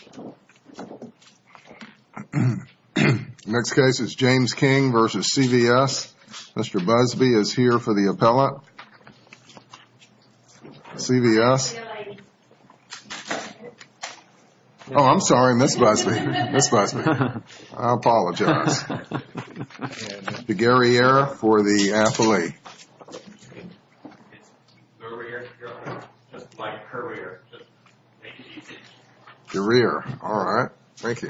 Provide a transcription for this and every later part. The next case is James King v. CVS. Mr. Busby is here for the appellate. CVS. Oh, I'm sorry, Ms. Busby. Ms. Busby. I apologize. The guerrilla for the athlete. It's career. Just like career. Just make it easy. Career. All right. Thank you.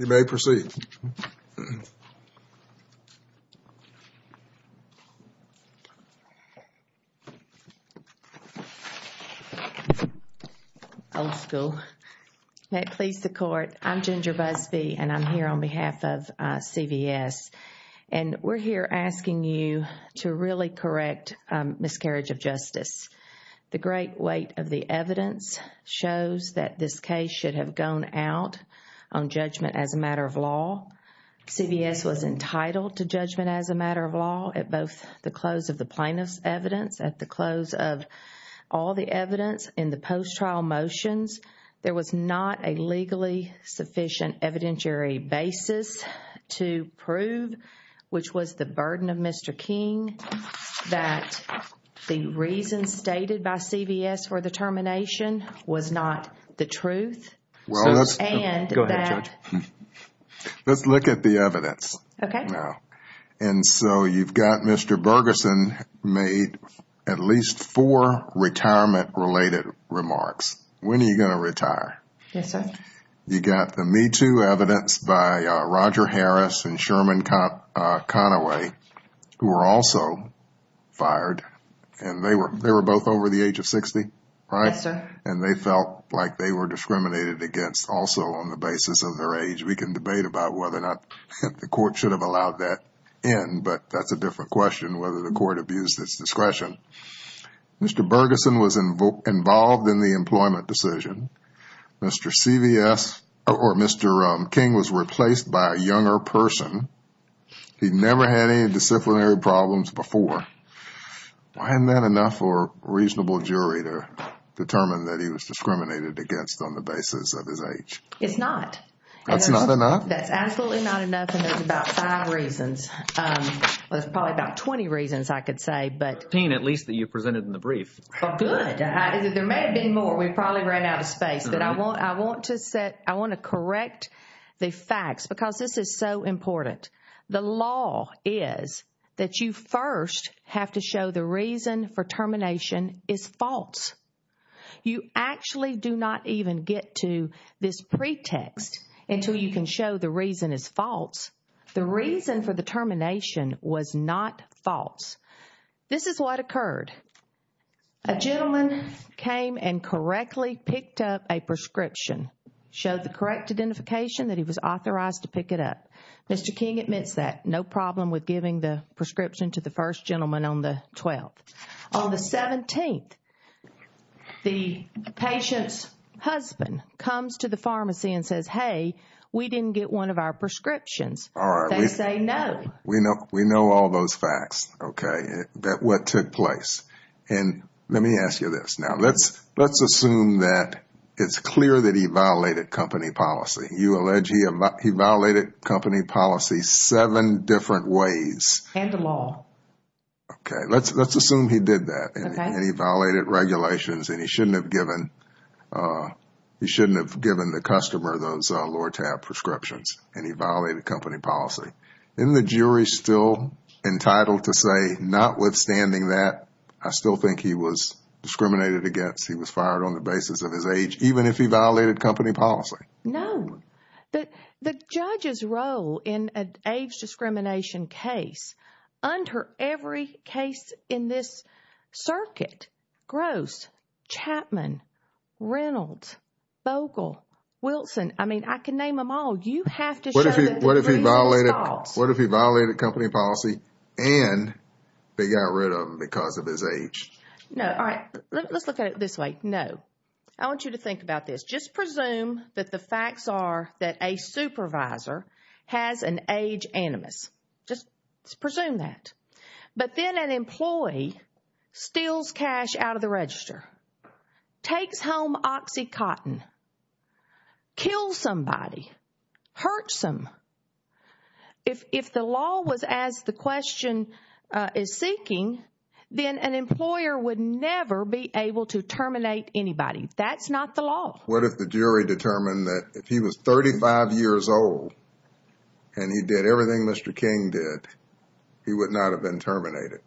You may proceed. Old school. May it please the court, I'm Ginger Busby and I'm here on behalf of CVS. And we're here asking you to really correct miscarriage of justice. The great weight of the evidence shows that this case should have gone out on judgment as a matter of law. CVS was entitled to judgment as a matter of law at both the close of the plaintiff's evidence at the close of all the evidence in the post trial motions. There was not a legally sufficient evidentiary basis to prove, which was the burden of Mr. King, that the reason stated by CVS for the termination was not the truth. Let's look at the evidence. Okay. And so you've got Mr. Bergeson made at least four retirement related remarks. When are you going to retire? Yes, sir. You got the Me Too evidence by Roger Harris and Sherman Conaway, who were also fired. And they were both over the age of 60. Yes, sir. And they felt like they were discriminated against also on the basis of their age. We can debate about whether or not the court should have allowed that in. But that's a different question, whether the court abused its discretion. Mr. Bergeson was involved in the employment decision. Mr. King was replaced by a younger person. He never had any disciplinary problems before. Why isn't that enough for a reasonable jury to determine that he was discriminated against on the basis of his age? It's not. That's not enough? That's absolutely not enough, and there's about five reasons. There's probably about 20 reasons, I could say. At least that you presented in the brief. There may have been more. We probably ran out of space. But I want to correct the facts because this is so important. The law is that you first have to show the reason for termination is false. You actually do not even get to this pretext until you can show the reason is false. The reason for the termination was not false. This is what occurred. A gentleman came and correctly picked up a prescription, showed the correct identification that he was authorized to pick it up. Mr. King admits that. No problem with giving the prescription to the first gentleman on the 12th. On the 17th, the patient's husband comes to the pharmacy and says, hey, we didn't get one of our prescriptions. They say no. We know all those facts, okay, that what took place. And let me ask you this. Now, let's assume that it's clear that he violated company policy. You allege he violated company policy seven different ways. And the law. Okay. Let's assume he did that and he violated regulations and he shouldn't have given the customer those lower tab prescriptions and he violated company policy. Isn't the jury still entitled to say, notwithstanding that, I still think he was discriminated against, he was fired on the basis of his age, even if he violated company policy? No. The judge's role in an age discrimination case, under every case in this circuit, Gross, Chapman, Reynolds, Bogle, Wilson, I mean, I can name them all. You have to show that the reason stops. What if he violated company policy and they got rid of him because of his age? No. All right. Let's look at it this way. No. I want you to think about this. Just presume that the facts are that a supervisor has an age animus. Just presume that. But then an employee steals cash out of the register, takes home OxyContin, kills somebody, hurts them. If the law was as the question is seeking, then an employer would never be able to terminate anybody. That's not the law. What if the jury determined that if he was 35 years old and he did everything Mr. King did, he would not have been terminated?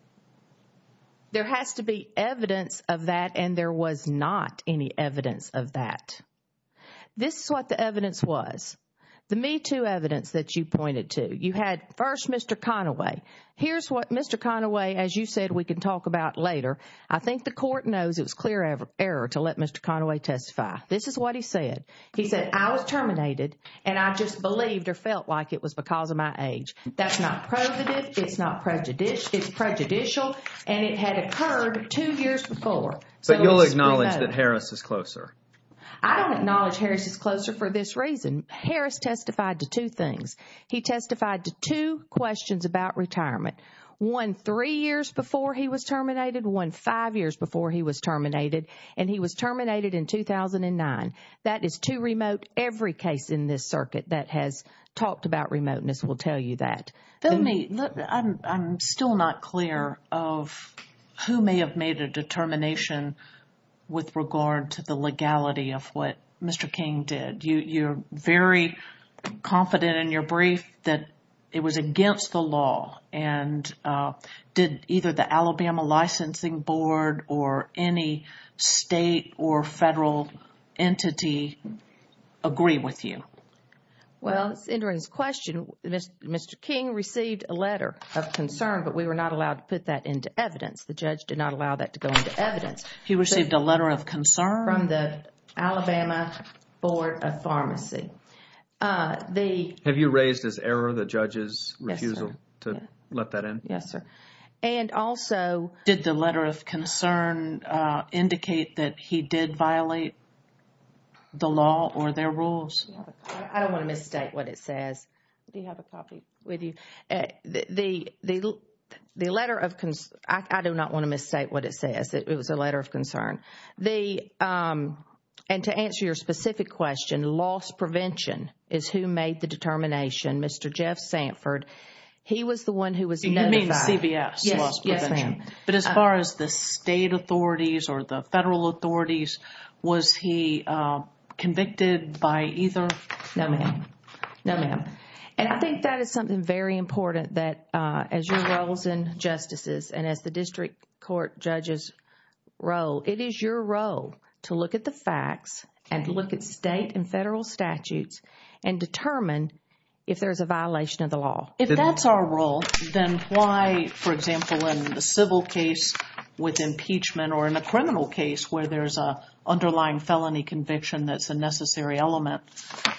There has to be evidence of that and there was not any evidence of that. This is what the evidence was, the Me Too evidence that you pointed to. You had first Mr. Conaway. Here's what Mr. Conaway, as you said, we can talk about later. I think the court knows it was clear error to let Mr. Conaway testify. This is what he said. He said, I was terminated and I just believed or felt like it was because of my age. That's not provative. It's not prejudicial. It's prejudicial and it had occurred two years before. But you'll acknowledge that Harris is closer. I don't acknowledge Harris is closer for this reason. Harris testified to two things. He testified to two questions about retirement, one three years before he was terminated, one five years before he was terminated, and he was terminated in 2009. That is too remote. Every case in this circuit that has talked about remoteness will tell you that. I'm still not clear of who may have made a determination with regard to the legality of what Mr. King did. You're very confident in your brief that it was against the law and did either the Alabama licensing board or any state or federal entity agree with you? Well, it's entering this question. Mr. King received a letter of concern, but we were not allowed to put that into evidence. The judge did not allow that to go into evidence. He received a letter of concern from the Alabama Board of Pharmacy. Have you raised as error the judge's refusal to let that in? Yes, sir. And also, did the letter of concern indicate that he did violate the law or their rules? I don't want to mistake what it says. Do you have a copy with you? The letter of concern, I do not want to mistake what it says. It was a letter of concern. And to answer your specific question, loss prevention is who made the determination. Mr. Jeff Sanford, he was the one who was notified. You mean CBS? Yes, ma'am. But as far as the state authorities or the federal authorities, was he convicted by either? No, ma'am. No, ma'am. And I think that is something very important that as your roles in justices and as the district court judges' role, it is your role to look at the facts and look at state and federal statutes and determine if there is a violation of the law. If that is our role, then why, for example, in the civil case with impeachment or in a criminal case where there is an underlying felony conviction that is a necessary element,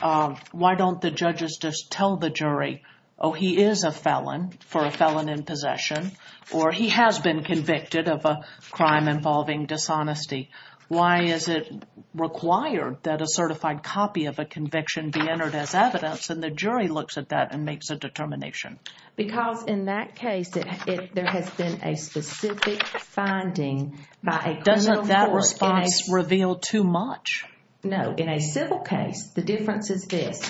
why don't the judges just tell the jury, oh, he is a felon for a felon in possession, or he has been convicted of a crime involving dishonesty? Why is it required that a certified copy of a conviction be entered as evidence? And the jury looks at that and makes a determination. Because in that case, there has been a specific finding by a criminal court. Doesn't that response reveal too much? No. In a civil case, the difference is this.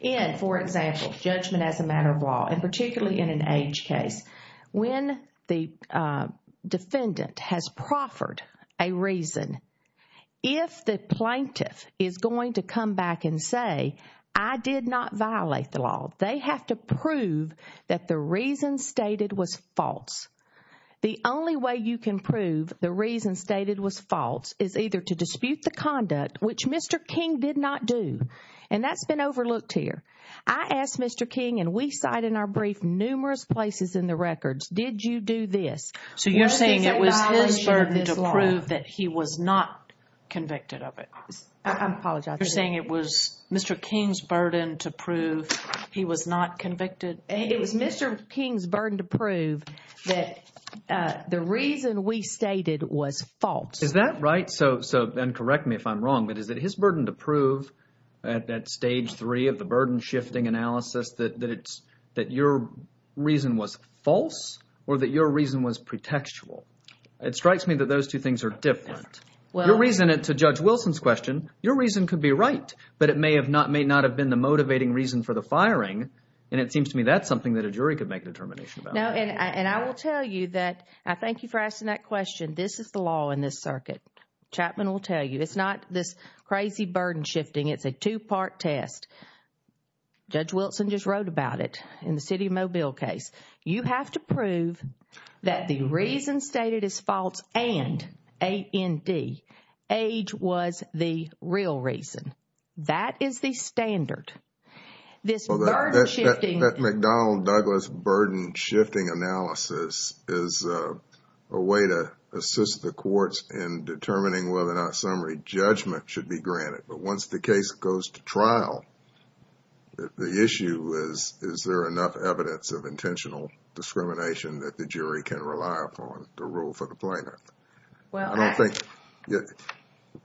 In, for example, judgment as a matter of law, and particularly in an age case, when the defendant has proffered a reason, if the plaintiff is going to come back and say, I did not violate the law, they have to prove that the reason stated was false. The only way you can prove the reason stated was false is either to dispute the conduct, which Mr. King did not do, and that's been overlooked here. I asked Mr. King, and we cite in our brief numerous places in the records, did you do this? So you're saying it was his burden to prove that he was not convicted of it? I apologize. You're saying it was Mr. King's burden to prove he was not convicted? It was Mr. King's burden to prove that the reason we stated was false. Is that right? So, and correct me if I'm wrong, but is it his burden to prove at stage three of the burden-shifting analysis that your reason was false or that your reason was pretextual? It strikes me that those two things are different. Your reason, to Judge Wilson's question, your reason could be right, but it may not have been the motivating reason for the firing, and it seems to me that's something that a jury could make a determination about. No, and I will tell you that I thank you for asking that question. This is the law in this circuit. Chapman will tell you. It's not this crazy burden-shifting. It's a two-part test. Judge Wilson just wrote about it in the City of Mobile case. You have to prove that the reason stated is false and A.N.D., age was the real reason. That is the standard. This burden-shifting... That McDonnell-Douglas burden-shifting analysis is a way to assist the courts in determining whether or not summary judgment should be granted. Once the case goes to trial, the issue is, is there enough evidence of intentional discrimination that the jury can rely upon to rule for the plaintiff? I don't think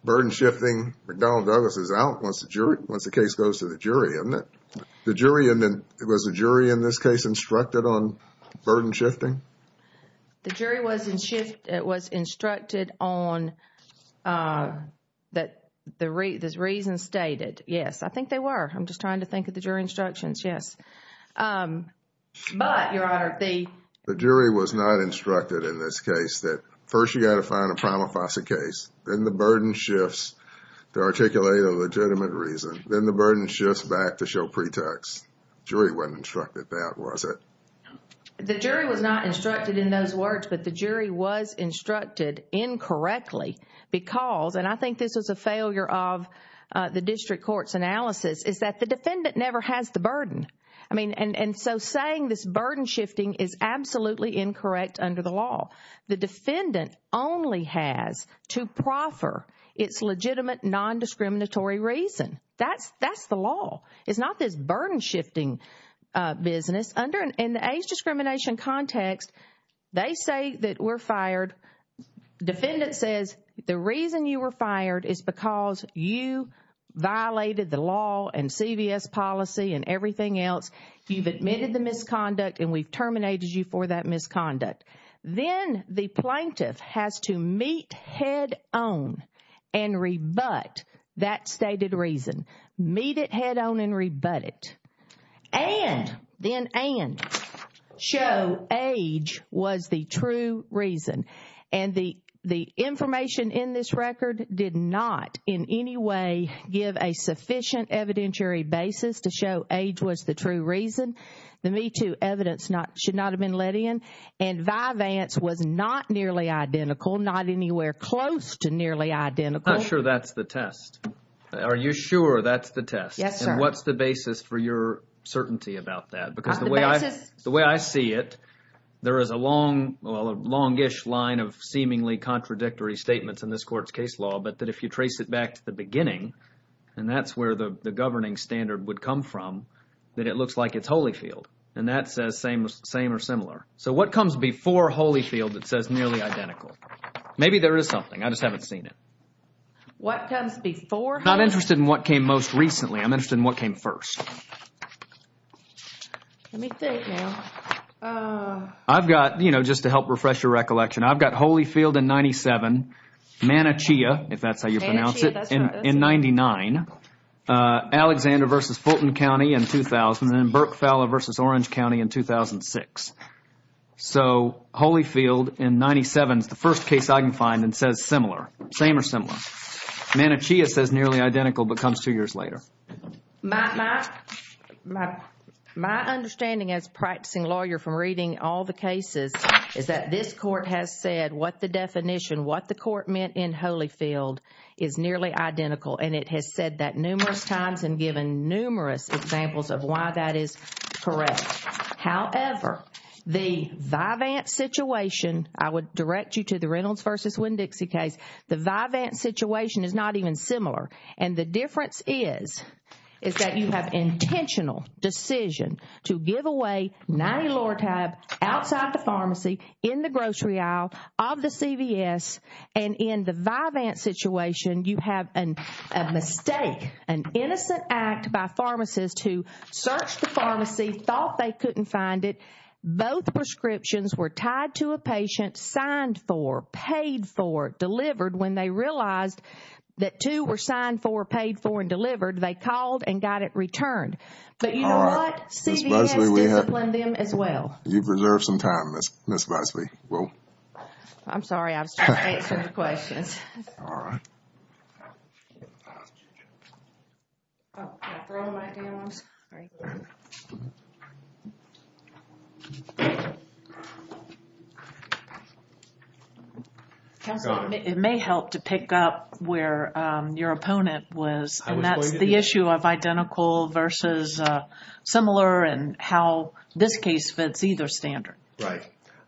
burden-shifting McDonnell-Douglas is out once the case goes to the jury, isn't it? Was the jury in this case instructed on burden-shifting? The jury was instructed on the reason stated. Yes, I think they were. I'm just trying to think of the jury instructions. Yes. But, Your Honor, the... The jury was not instructed in this case that first, you got to find a prima facie case. Then the burden shifts to articulate a legitimate reason. Then the burden shifts back to show pretext. The jury wasn't instructed that, was it? The jury was not instructed in those words, but the jury was instructed incorrectly because, and I think this was a failure of the district court's analysis, is that the defendant never has the burden. So saying this burden-shifting is absolutely incorrect under the law. The defendant only has to proffer its legitimate nondiscriminatory reason. That's the law. It's not this burden-shifting business. In the age discrimination context, they say that we're fired. Defendant says the reason you were fired is because you violated the law and CVS policy and everything else. You've admitted the misconduct, and we've terminated you for that misconduct. Then the plaintiff has to meet head-on and rebut that stated reason. Meet it head-on and rebut it. And, then and, show age was the true reason. And the information in this record did not in any way give a sufficient evidentiary basis to show age was the true reason. The MeToo evidence should not have been let in. And Vyvanse was not nearly identical, not anywhere close to nearly identical. I'm not sure that's the test. Are you sure that's the test? Yes, sir. And what's the basis for your certainty about that? Because the way I see it, there is a longish line of seemingly contradictory statements in this court's case law, but that if you trace it back to the beginning, and that's where the governing standard would come from, that it looks like it's Holyfield. And that says same or similar. So what comes before Holyfield that says nearly identical? Maybe there is something. I just haven't seen it. What comes before Holyfield? I'm not interested in what came most recently. I'm interested in what came first. Let me think now. I've got, you know, just to help refresh your recollection, I've got Holyfield in 97, Manichea, if that's how you pronounce it, in 99, Alexander versus Fulton County in 2000, and Burke-Falla versus Orange County in 2006. So Holyfield in 97 is the first case I can find that says similar. Same or similar. Manichea says nearly identical but comes two years later. My understanding as a practicing lawyer from reading all the cases is that this court has said what the definition, what the court meant in Holyfield is nearly identical, and it has said that numerous times and given numerous examples of why that is correct. However, the Vivant situation, I would direct you to the Reynolds versus Winn-Dixie case, the Vivant situation is not even similar, and the difference is is that you have intentional decision to give away 90 Lortab outside the pharmacy, in the grocery aisle of the CVS, and in the Vivant situation, you have a mistake, an innocent act by pharmacists who searched the pharmacy, thought they couldn't find it. Both prescriptions were tied to a patient, signed for, paid for, delivered. When they realized that two were signed for, paid for, and delivered, they called and got it returned. But you know what? CVS disciplined them as well. You've reserved some time, Ms. Busby. I'm sorry. I was trying to answer the questions. All right. Thank you. Counsel, it may help to pick up where your opponent was, and that's the issue of identical versus similar and how this case fits either standard. Right.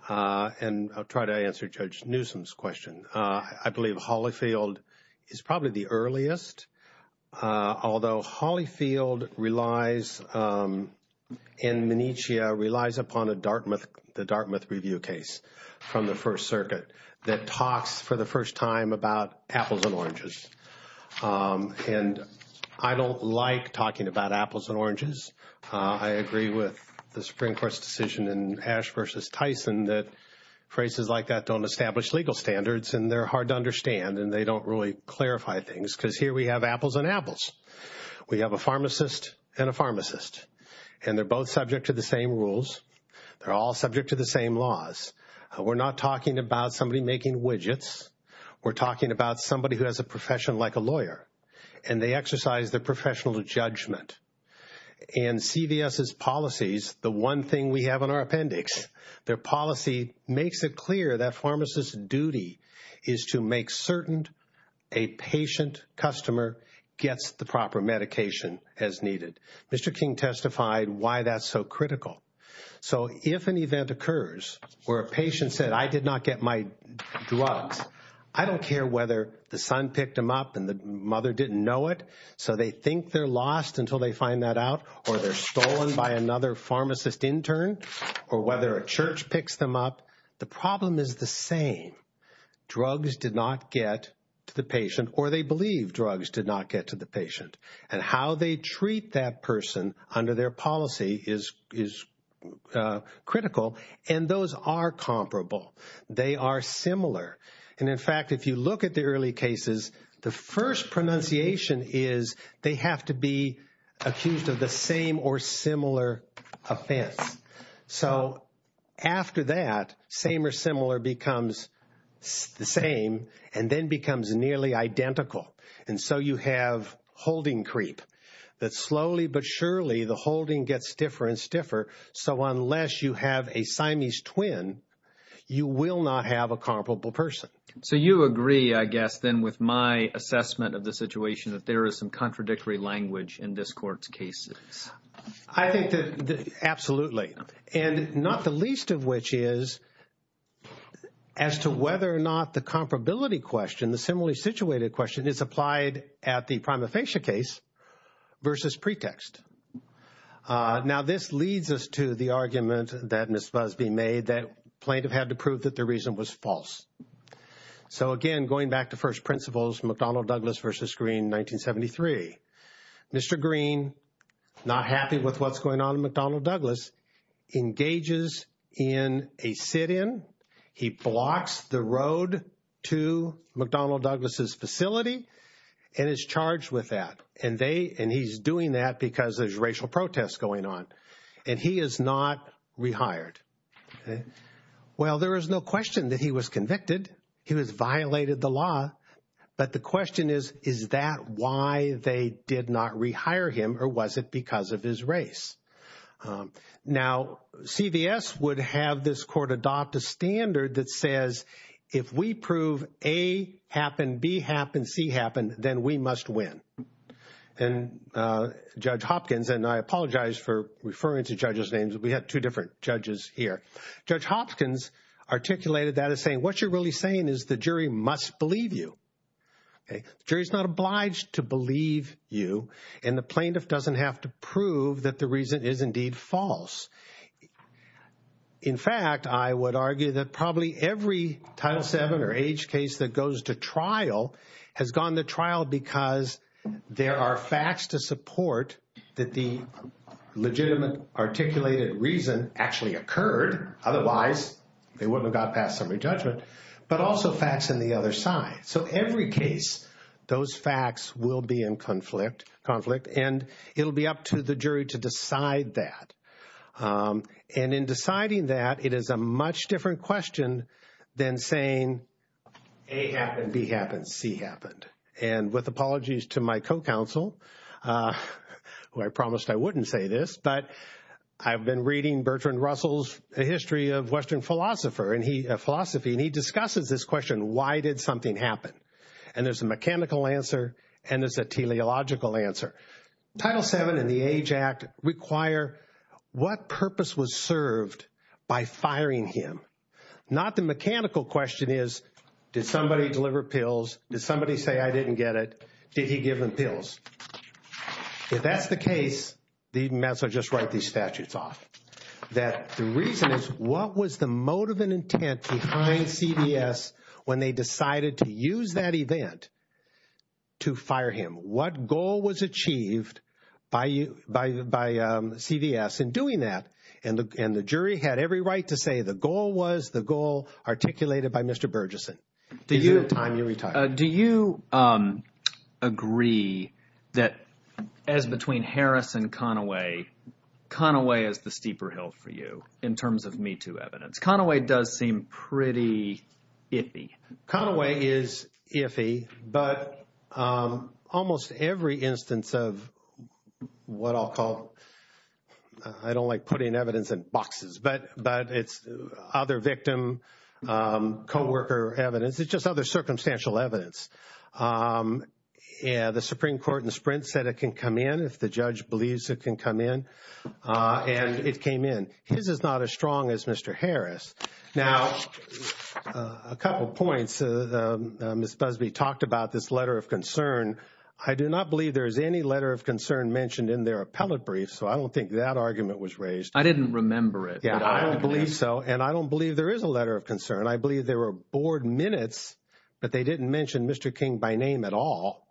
And I'll try to answer Judge Newsom's question. I believe Hollifield is probably the earliest, although Hollifield relies, and Menicia relies upon a Dartmouth, the Dartmouth review case from the First Circuit that talks for the first time about apples and oranges. And I don't like talking about apples and oranges. I agree with the Supreme Court's decision in Ash versus Tyson that phrases like that don't establish legal standards, and they're hard to understand, and they don't really clarify things. Because here we have apples and apples. We have a pharmacist and a pharmacist, and they're both subject to the same rules. They're all subject to the same laws. We're not talking about somebody making widgets. We're talking about somebody who has a profession like a lawyer, and they exercise their professional judgment. And CVS's policies, the one thing we have in our appendix, their policy makes it clear that pharmacist's duty is to make certain a patient customer gets the proper medication as needed. Mr. King testified why that's so critical. So if an event occurs where a patient said, I did not get my drugs, I don't care whether the son picked them up and the mother didn't know it, so they think they're lost until they find that out, or they're stolen by another pharmacist intern, or whether a church picks them up, the problem is the same. Drugs did not get to the patient, or they believe drugs did not get to the patient. And how they treat that person under their policy is critical, and those are comparable. They are similar. And in fact, if you look at the early cases, the first pronunciation is they have to be accused of the same or similar offense. So after that, same or similar becomes the same, and then becomes nearly identical. And so you have holding creep, that slowly but surely the holding gets stiffer and stiffer, so unless you have a Siamese twin, you will not have a comparable person. So you agree, I guess, then with my assessment of the situation, that there is some contradictory language in this court's cases. I think that absolutely, and not the least of which is as to whether or not the comparability question, the similarly situated question is applied at the prima facie case versus pretext. Now this leads us to the argument that Ms. Busby made that plaintiff had to prove that the reason was false. So again, going back to first principles, McDonnell Douglas versus Green, 1973. Mr. Green, not happy with what's going on in McDonnell Douglas, engages in a sit-in. He blocks the road to McDonnell Douglas' facility and is charged with that. And he's doing that because there's racial protest going on. And he is not rehired. Well, there is no question that he was convicted. He was violated the law. But the question is, is that why they did not rehire him, or was it because of his race? Now, CVS would have this court adopt a standard that says, if we prove A happened, B happened, C happened, then we must win. And Judge Hopkins, and I apologize for referring to judges' names. We have two different judges here. Judge Hopkins articulated that as saying, what you're really saying is the jury must believe you. The jury is not obliged to believe you. And the plaintiff doesn't have to prove that the reason is indeed false. In fact, I would argue that probably every Title VII or H case that goes to trial has gone to trial because there are facts to support that the legitimate articulated reason actually occurred. Otherwise, they wouldn't have got past summary judgment. But also facts on the other side. So every case, those facts will be in conflict. And it will be up to the jury to decide that. And in deciding that, it is a much different question than saying, A happened, B happened, C happened. And with apologies to my co-counsel, who I promised I wouldn't say this, but I've been reading Bertrand Russell's history of Western philosophy. And he discusses this question, why did something happen? And there's a mechanical answer, and there's a teleological answer. Title VII and the AGE Act require what purpose was served by firing him. Not the mechanical question is, did somebody deliver pills? Did somebody say, I didn't get it? Did he give them pills? If that's the case, the even better, just write these statutes off. That the reason is, what was the motive and intent behind CVS when they decided to use that event to fire him? What goal was achieved by CVS in doing that? And the jury had every right to say the goal was the goal articulated by Mr. Burgesson. Do you agree that as between Harris and Conaway, Conaway is the steeper hill for you in terms of Me Too evidence? Conaway does seem pretty iffy. Conaway is iffy, but almost every instance of what I'll call, I don't like putting evidence in boxes, but it's other victim, co-worker evidence. It's just other circumstantial evidence. The Supreme Court in the sprint said it can come in if the judge believes it can come in. And it came in. His is not as strong as Mr. Harris. Now, a couple points. Ms. Busby talked about this letter of concern. I do not believe there is any letter of concern mentioned in their appellate brief, so I don't think that argument was raised. I didn't remember it. I don't believe so, and I don't believe there is a letter of concern. I believe there were board minutes, but they didn't mention Mr. King by name at all.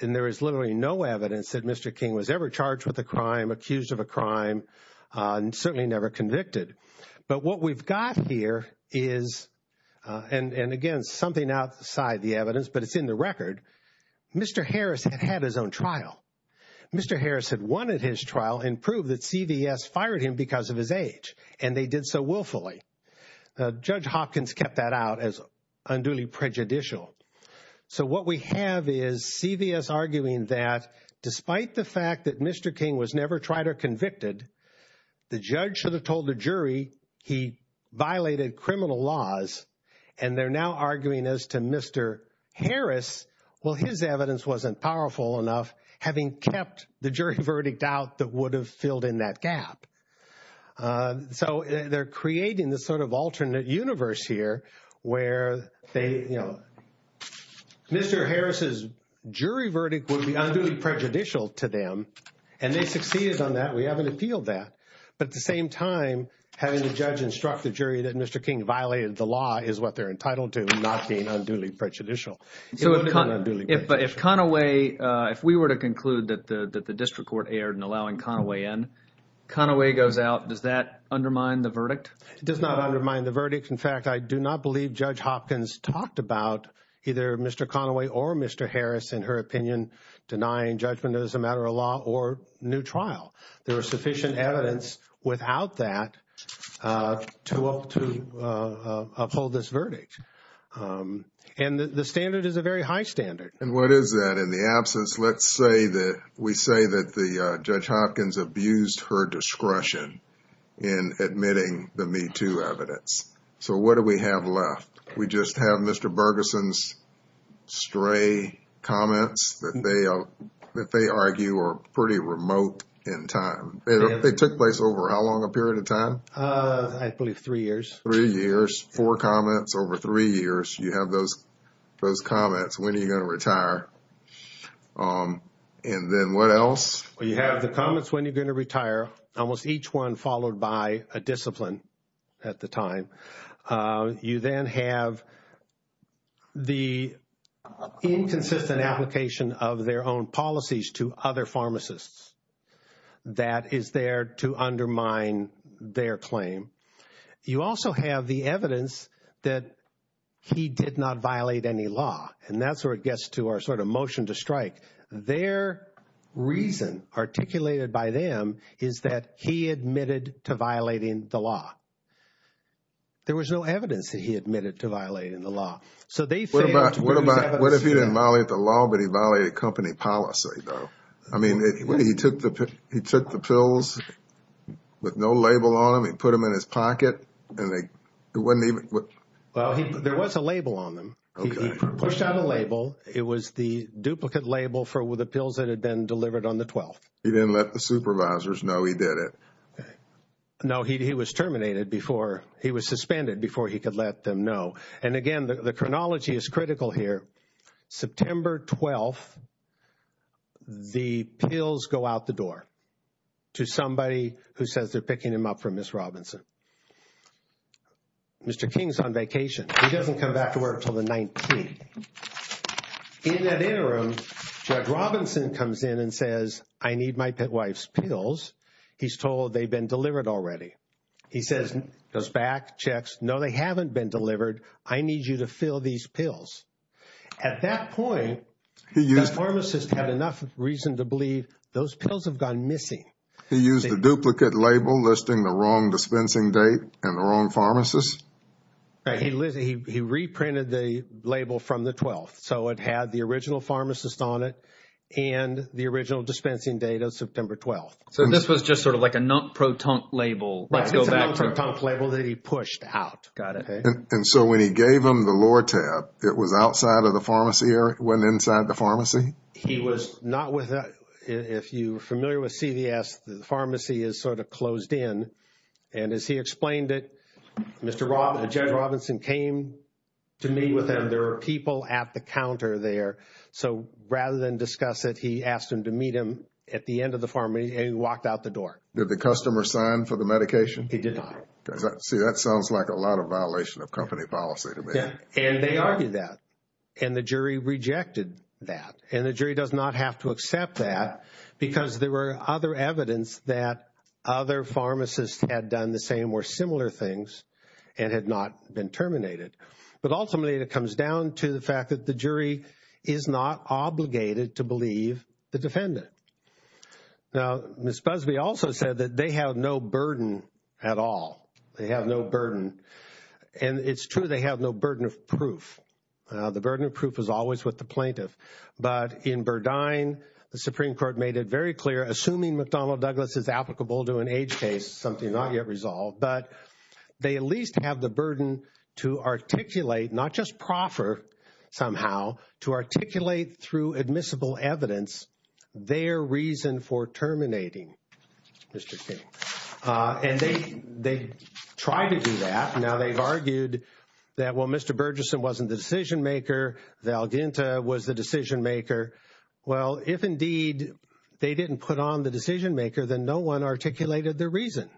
And there is literally no evidence that Mr. King was ever charged with a crime, accused of a crime, and certainly never convicted. But what we've got here is, and again, something outside the evidence, but it's in the record, Mr. Harris had had his own trial. Mr. Harris had won at his trial and proved that CVS fired him because of his age, and they did so willfully. Judge Hopkins kept that out as unduly prejudicial. So what we have is CVS arguing that despite the fact that Mr. King was never tried or convicted, the judge should have told the jury he violated criminal laws, and they're now arguing as to Mr. Harris, well, his evidence wasn't powerful enough, having kept the jury verdict out that would have filled in that gap. So they're creating this sort of alternate universe here where Mr. Harris's jury verdict would be unduly prejudicial to them, and they succeeded on that. We haven't appealed that. But at the same time, having the judge instruct the jury that Mr. King violated the law is what they're entitled to, not being unduly prejudicial. So if Conaway – if we were to conclude that the district court erred in allowing Conaway in, Conaway goes out, does that undermine the verdict? It does not undermine the verdict. In fact, I do not believe Judge Hopkins talked about either Mr. Conaway or Mr. Harris, in her opinion, denying judgment as a matter of law or new trial. There was sufficient evidence without that to uphold this verdict. And the standard is a very high standard. And what is that? In the absence, let's say that we say that Judge Hopkins abused her discretion in admitting the MeToo evidence. So what do we have left? We just have Mr. Bergeson's stray comments that they argue are pretty remote in time. They took place over how long a period of time? I believe three years. Three years. Four comments over three years. You have those comments. When are you going to retire? And then what else? You have the comments when you're going to retire, almost each one followed by a discipline at the time. You then have the inconsistent application of their own policies to other pharmacists that is there to undermine their claim. You also have the evidence that he did not violate any law. And that's where it gets to our sort of motion to strike. Their reason, articulated by them, is that he admitted to violating the law. There was no evidence that he admitted to violating the law. What if he didn't violate the law, but he violated company policy, though? He took the pills with no label on them. He put them in his pocket. There was a label on them. He pushed out a label. It was the duplicate label for the pills that had been delivered on the 12th. He didn't let the supervisors know he did it. No, he was suspended before he could let them know. And, again, the chronology is critical here. September 12th, the pills go out the door to somebody who says they're picking him up from Ms. Robinson. Mr. King's on vacation. He doesn't come back to work until the 19th. In that interim, Judge Robinson comes in and says, I need my wife's pills. He's told they've been delivered already. He says, goes back, checks, no, they haven't been delivered. I need you to fill these pills. At that point, the pharmacist had enough reason to believe those pills have gone missing. He used the duplicate label listing the wrong dispensing date and the wrong pharmacist? He reprinted the label from the 12th. So it had the original pharmacist on it and the original dispensing date of September 12th. So this was just sort of like a non-proton label. It's a non-proton label that he pushed out. Got it. Okay. And so when he gave him the Lortab, it was outside of the pharmacy or it went inside the pharmacy? He was not with us. If you're familiar with CVS, the pharmacy is sort of closed in. And as he explained it, Judge Robinson came to meet with him. There are people at the counter there. So rather than discuss it, he asked him to meet him at the end of the pharmacy and he walked out the door. Did the customer sign for the medication? He did not. See, that sounds like a lot of violation of company policy to me. And they argued that. And the jury rejected that. And the jury does not have to accept that because there were other evidence that other pharmacists had done the same or similar things and had not been terminated. But ultimately it comes down to the fact that the jury is not obligated to believe the defendant. Now, Ms. Busby also said that they have no burden at all. They have no burden. And it's true they have no burden of proof. The burden of proof is always with the plaintiff. But in Burdine, the Supreme Court made it very clear, assuming McDonnell Douglas is applicable to an age case, something not yet resolved, but they at least have the burden to articulate, not just proffer somehow, to articulate through admissible evidence their reason for terminating Mr. King. And they tried to do that. Now, they've argued that, well, Mr. Burgesson wasn't the decision-maker. Valdenta was the decision-maker. Well, if indeed they didn't put on the decision-maker, then no one articulated their reason.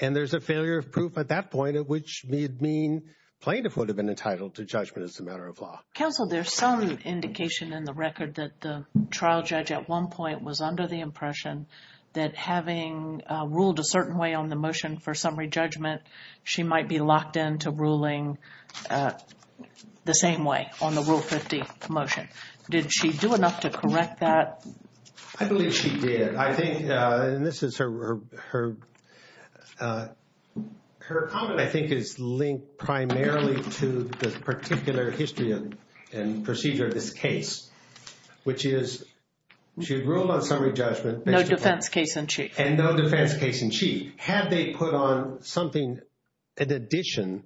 And there's a failure of proof at that point, which would mean the plaintiff would have been entitled to judgment as a matter of law. Counsel, there's some indication in the record that the trial judge at one point was under the impression that having ruled a certain way on the motion for summary judgment, she might be locked into ruling the same way on the Rule 50 motion. Did she do enough to correct that? I believe she did. Her comment, I think, is linked primarily to the particular history and procedure of this case, which is she ruled on summary judgment. No defense case in chief. And no defense case in chief. Had they put on something in addition,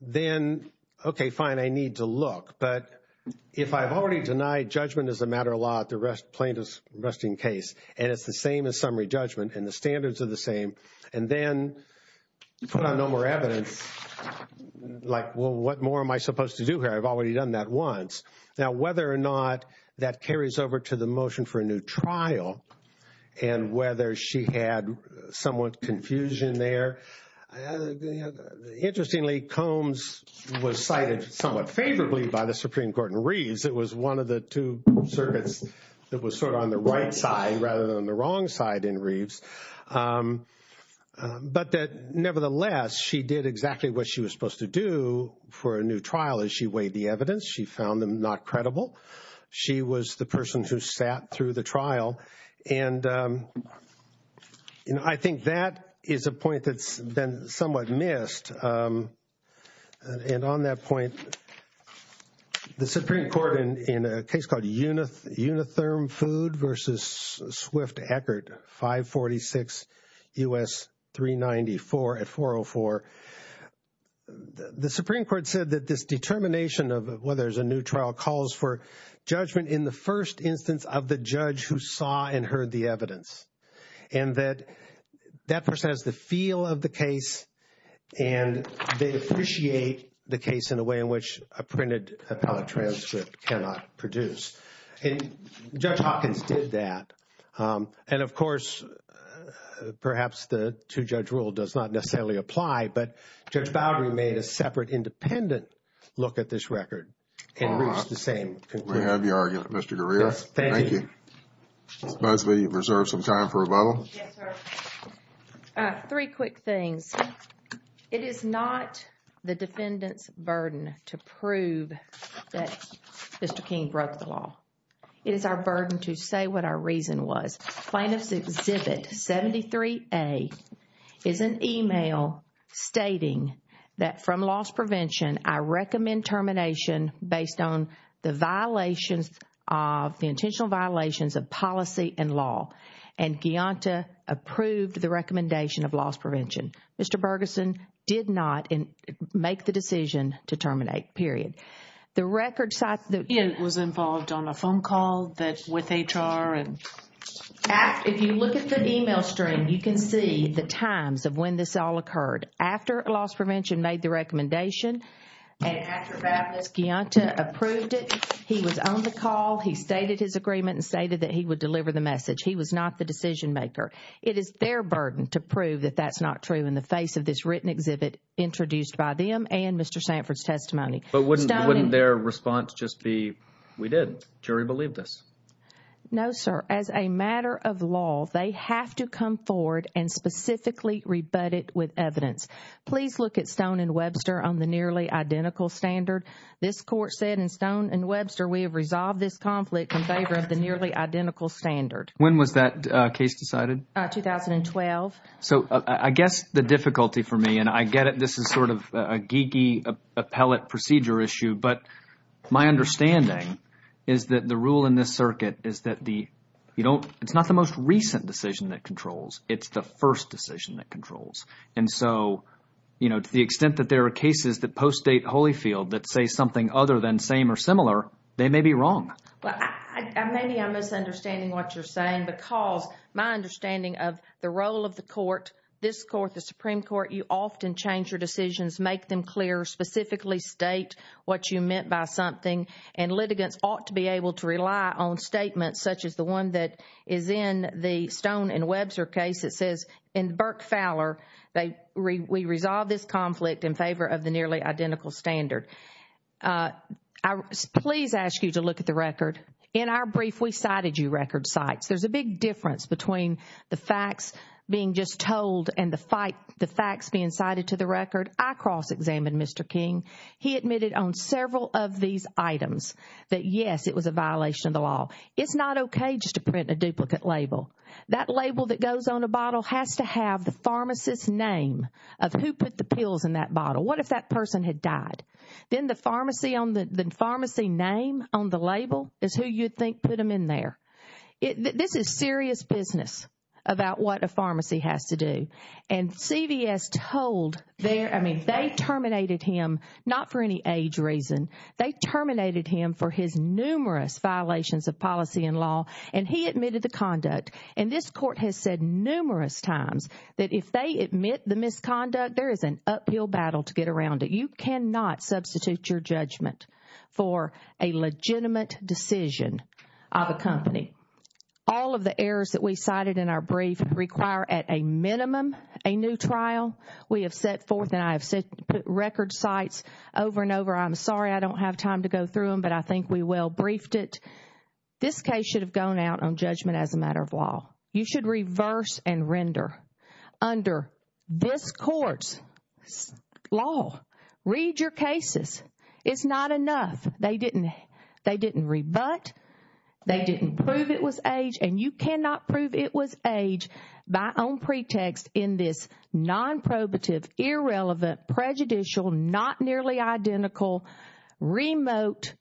then, okay, fine, I need to look. But if I've already denied judgment as a matter of law at the plaintiff's arresting case, and it's the same as summary judgment and the standards are the same, and then put on no more evidence, like, well, what more am I supposed to do here? I've already done that once. Now, whether or not that carries over to the motion for a new trial and whether she had somewhat confusion there, interestingly Combs was cited somewhat favorably by the Supreme Court in Reeves. It was one of the two circuits that was sort of on the right side rather than the wrong side in Reeves. But nevertheless, she did exactly what she was supposed to do for a new trial is she weighed the evidence. She found them not credible. And I think that is a point that's been somewhat missed. And on that point, the Supreme Court in a case called Unitherm Food versus Swift-Eckert, 546 U.S. 394 at 404, the Supreme Court said that this determination of whether there's a new trial calls for judgment in the first instance of the judge who saw and heard the evidence, and that that person has the feel of the case, and they appreciate the case in a way in which a printed appellate transcript cannot produce. And Judge Hawkins did that. And, of course, perhaps the two-judge rule does not necessarily apply, but Judge Bowery made a separate independent look at this record and reached the same conclusion. We have your argument, Mr. Greer. Yes, thank you. Thank you. Ms. Busby, you've reserved some time for rebuttal. Yes, sir. Three quick things. It is not the defendant's burden to prove that Mr. King broke the law. It is our burden to say what our reason was. Plaintiff's Exhibit 73A is an email stating that from loss prevention, I recommend termination based on the violations of, the intentional violations of policy and law, and Guyanta approved the recommendation of loss prevention. Mr. Bergeson did not make the decision to terminate, period. The record cites the He was involved on a phone call with HR. If you look at the email stream, you can see the times of when this all occurred. After loss prevention made the recommendation and after Baptist Guyanta approved it, he was on the call, he stated his agreement and stated that he would deliver the message. He was not the decision maker. It is their burden to prove that that's not true in the face of this written exhibit introduced by them and Mr. Sanford's testimony. But wouldn't their response just be, we did, jury believed us? No, sir. As a matter of law, they have to come forward and specifically rebut it with evidence. Please look at Stone and Webster on the nearly identical standard. This court said in Stone and Webster we have resolved this conflict in favor of the nearly identical standard. When was that case decided? 2012. So I guess the difficulty for me, and I get it, this is sort of a geeky appellate procedure issue, but my understanding is that the rule in this circuit is that it's not the most recent decision that controls. It's the first decision that controls. And so to the extent that there are cases that post-date Holyfield that say something other than same or similar, they may be wrong. Maybe I'm misunderstanding what you're saying because my understanding of the role of the court, this court, the Supreme Court, you often change your decisions, make them clear, specifically state what you meant by something, and litigants ought to be able to rely on statements such as the one that is in the Stone and Webster case that says, in Burke-Fowler, we resolved this conflict in favor of the nearly identical standard. Please ask you to look at the record. In our brief, we cited you record cites. There's a big difference between the facts being just told and the facts being cited to the record. I cross-examined Mr. King. He admitted on several of these items that, yes, it was a violation of the law. It's not okay just to print a duplicate label. That label that goes on a bottle has to have the pharmacist's name of who put the pills in that bottle. What if that person had died? Then the pharmacy name on the label is who you think put them in there. This is serious business about what a pharmacy has to do. And CVS told their, I mean, they terminated him not for any age reason. They terminated him for his numerous violations of policy and law, and he admitted the conduct. And this court has said numerous times that if they admit the misconduct, there is an uphill battle to get around it. You cannot substitute your judgment for a legitimate decision of a company. All of the errors that we cited in our brief require at a minimum a new trial. We have set forth and I have set record sites over and over. I'm sorry I don't have time to go through them, but I think we well briefed it. This case should have gone out on judgment as a matter of law. You should reverse and render. Under this court's law, read your cases. It's not enough. They didn't rebut. They didn't prove it was age. And you cannot prove it was age by own pretext in this nonprobative, irrelevant, prejudicial, not nearly identical, remote,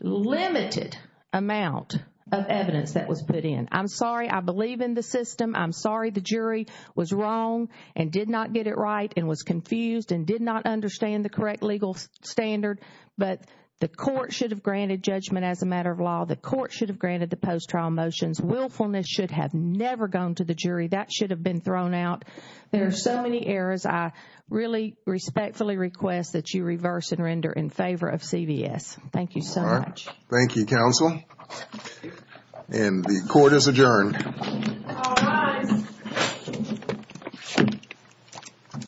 limited amount of evidence that was put in. I'm sorry. I believe in the system. I'm sorry the jury was wrong and did not get it right and was confused and did not understand the correct legal standard. But the court should have granted judgment as a matter of law. The court should have granted the post-trial motions. Willfulness should have never gone to the jury. That should have been thrown out. There are so many errors. I really respectfully request that you reverse and render in favor of CVS. Thank you so much. All right. Thank you, counsel. And the court is adjourned. All rise.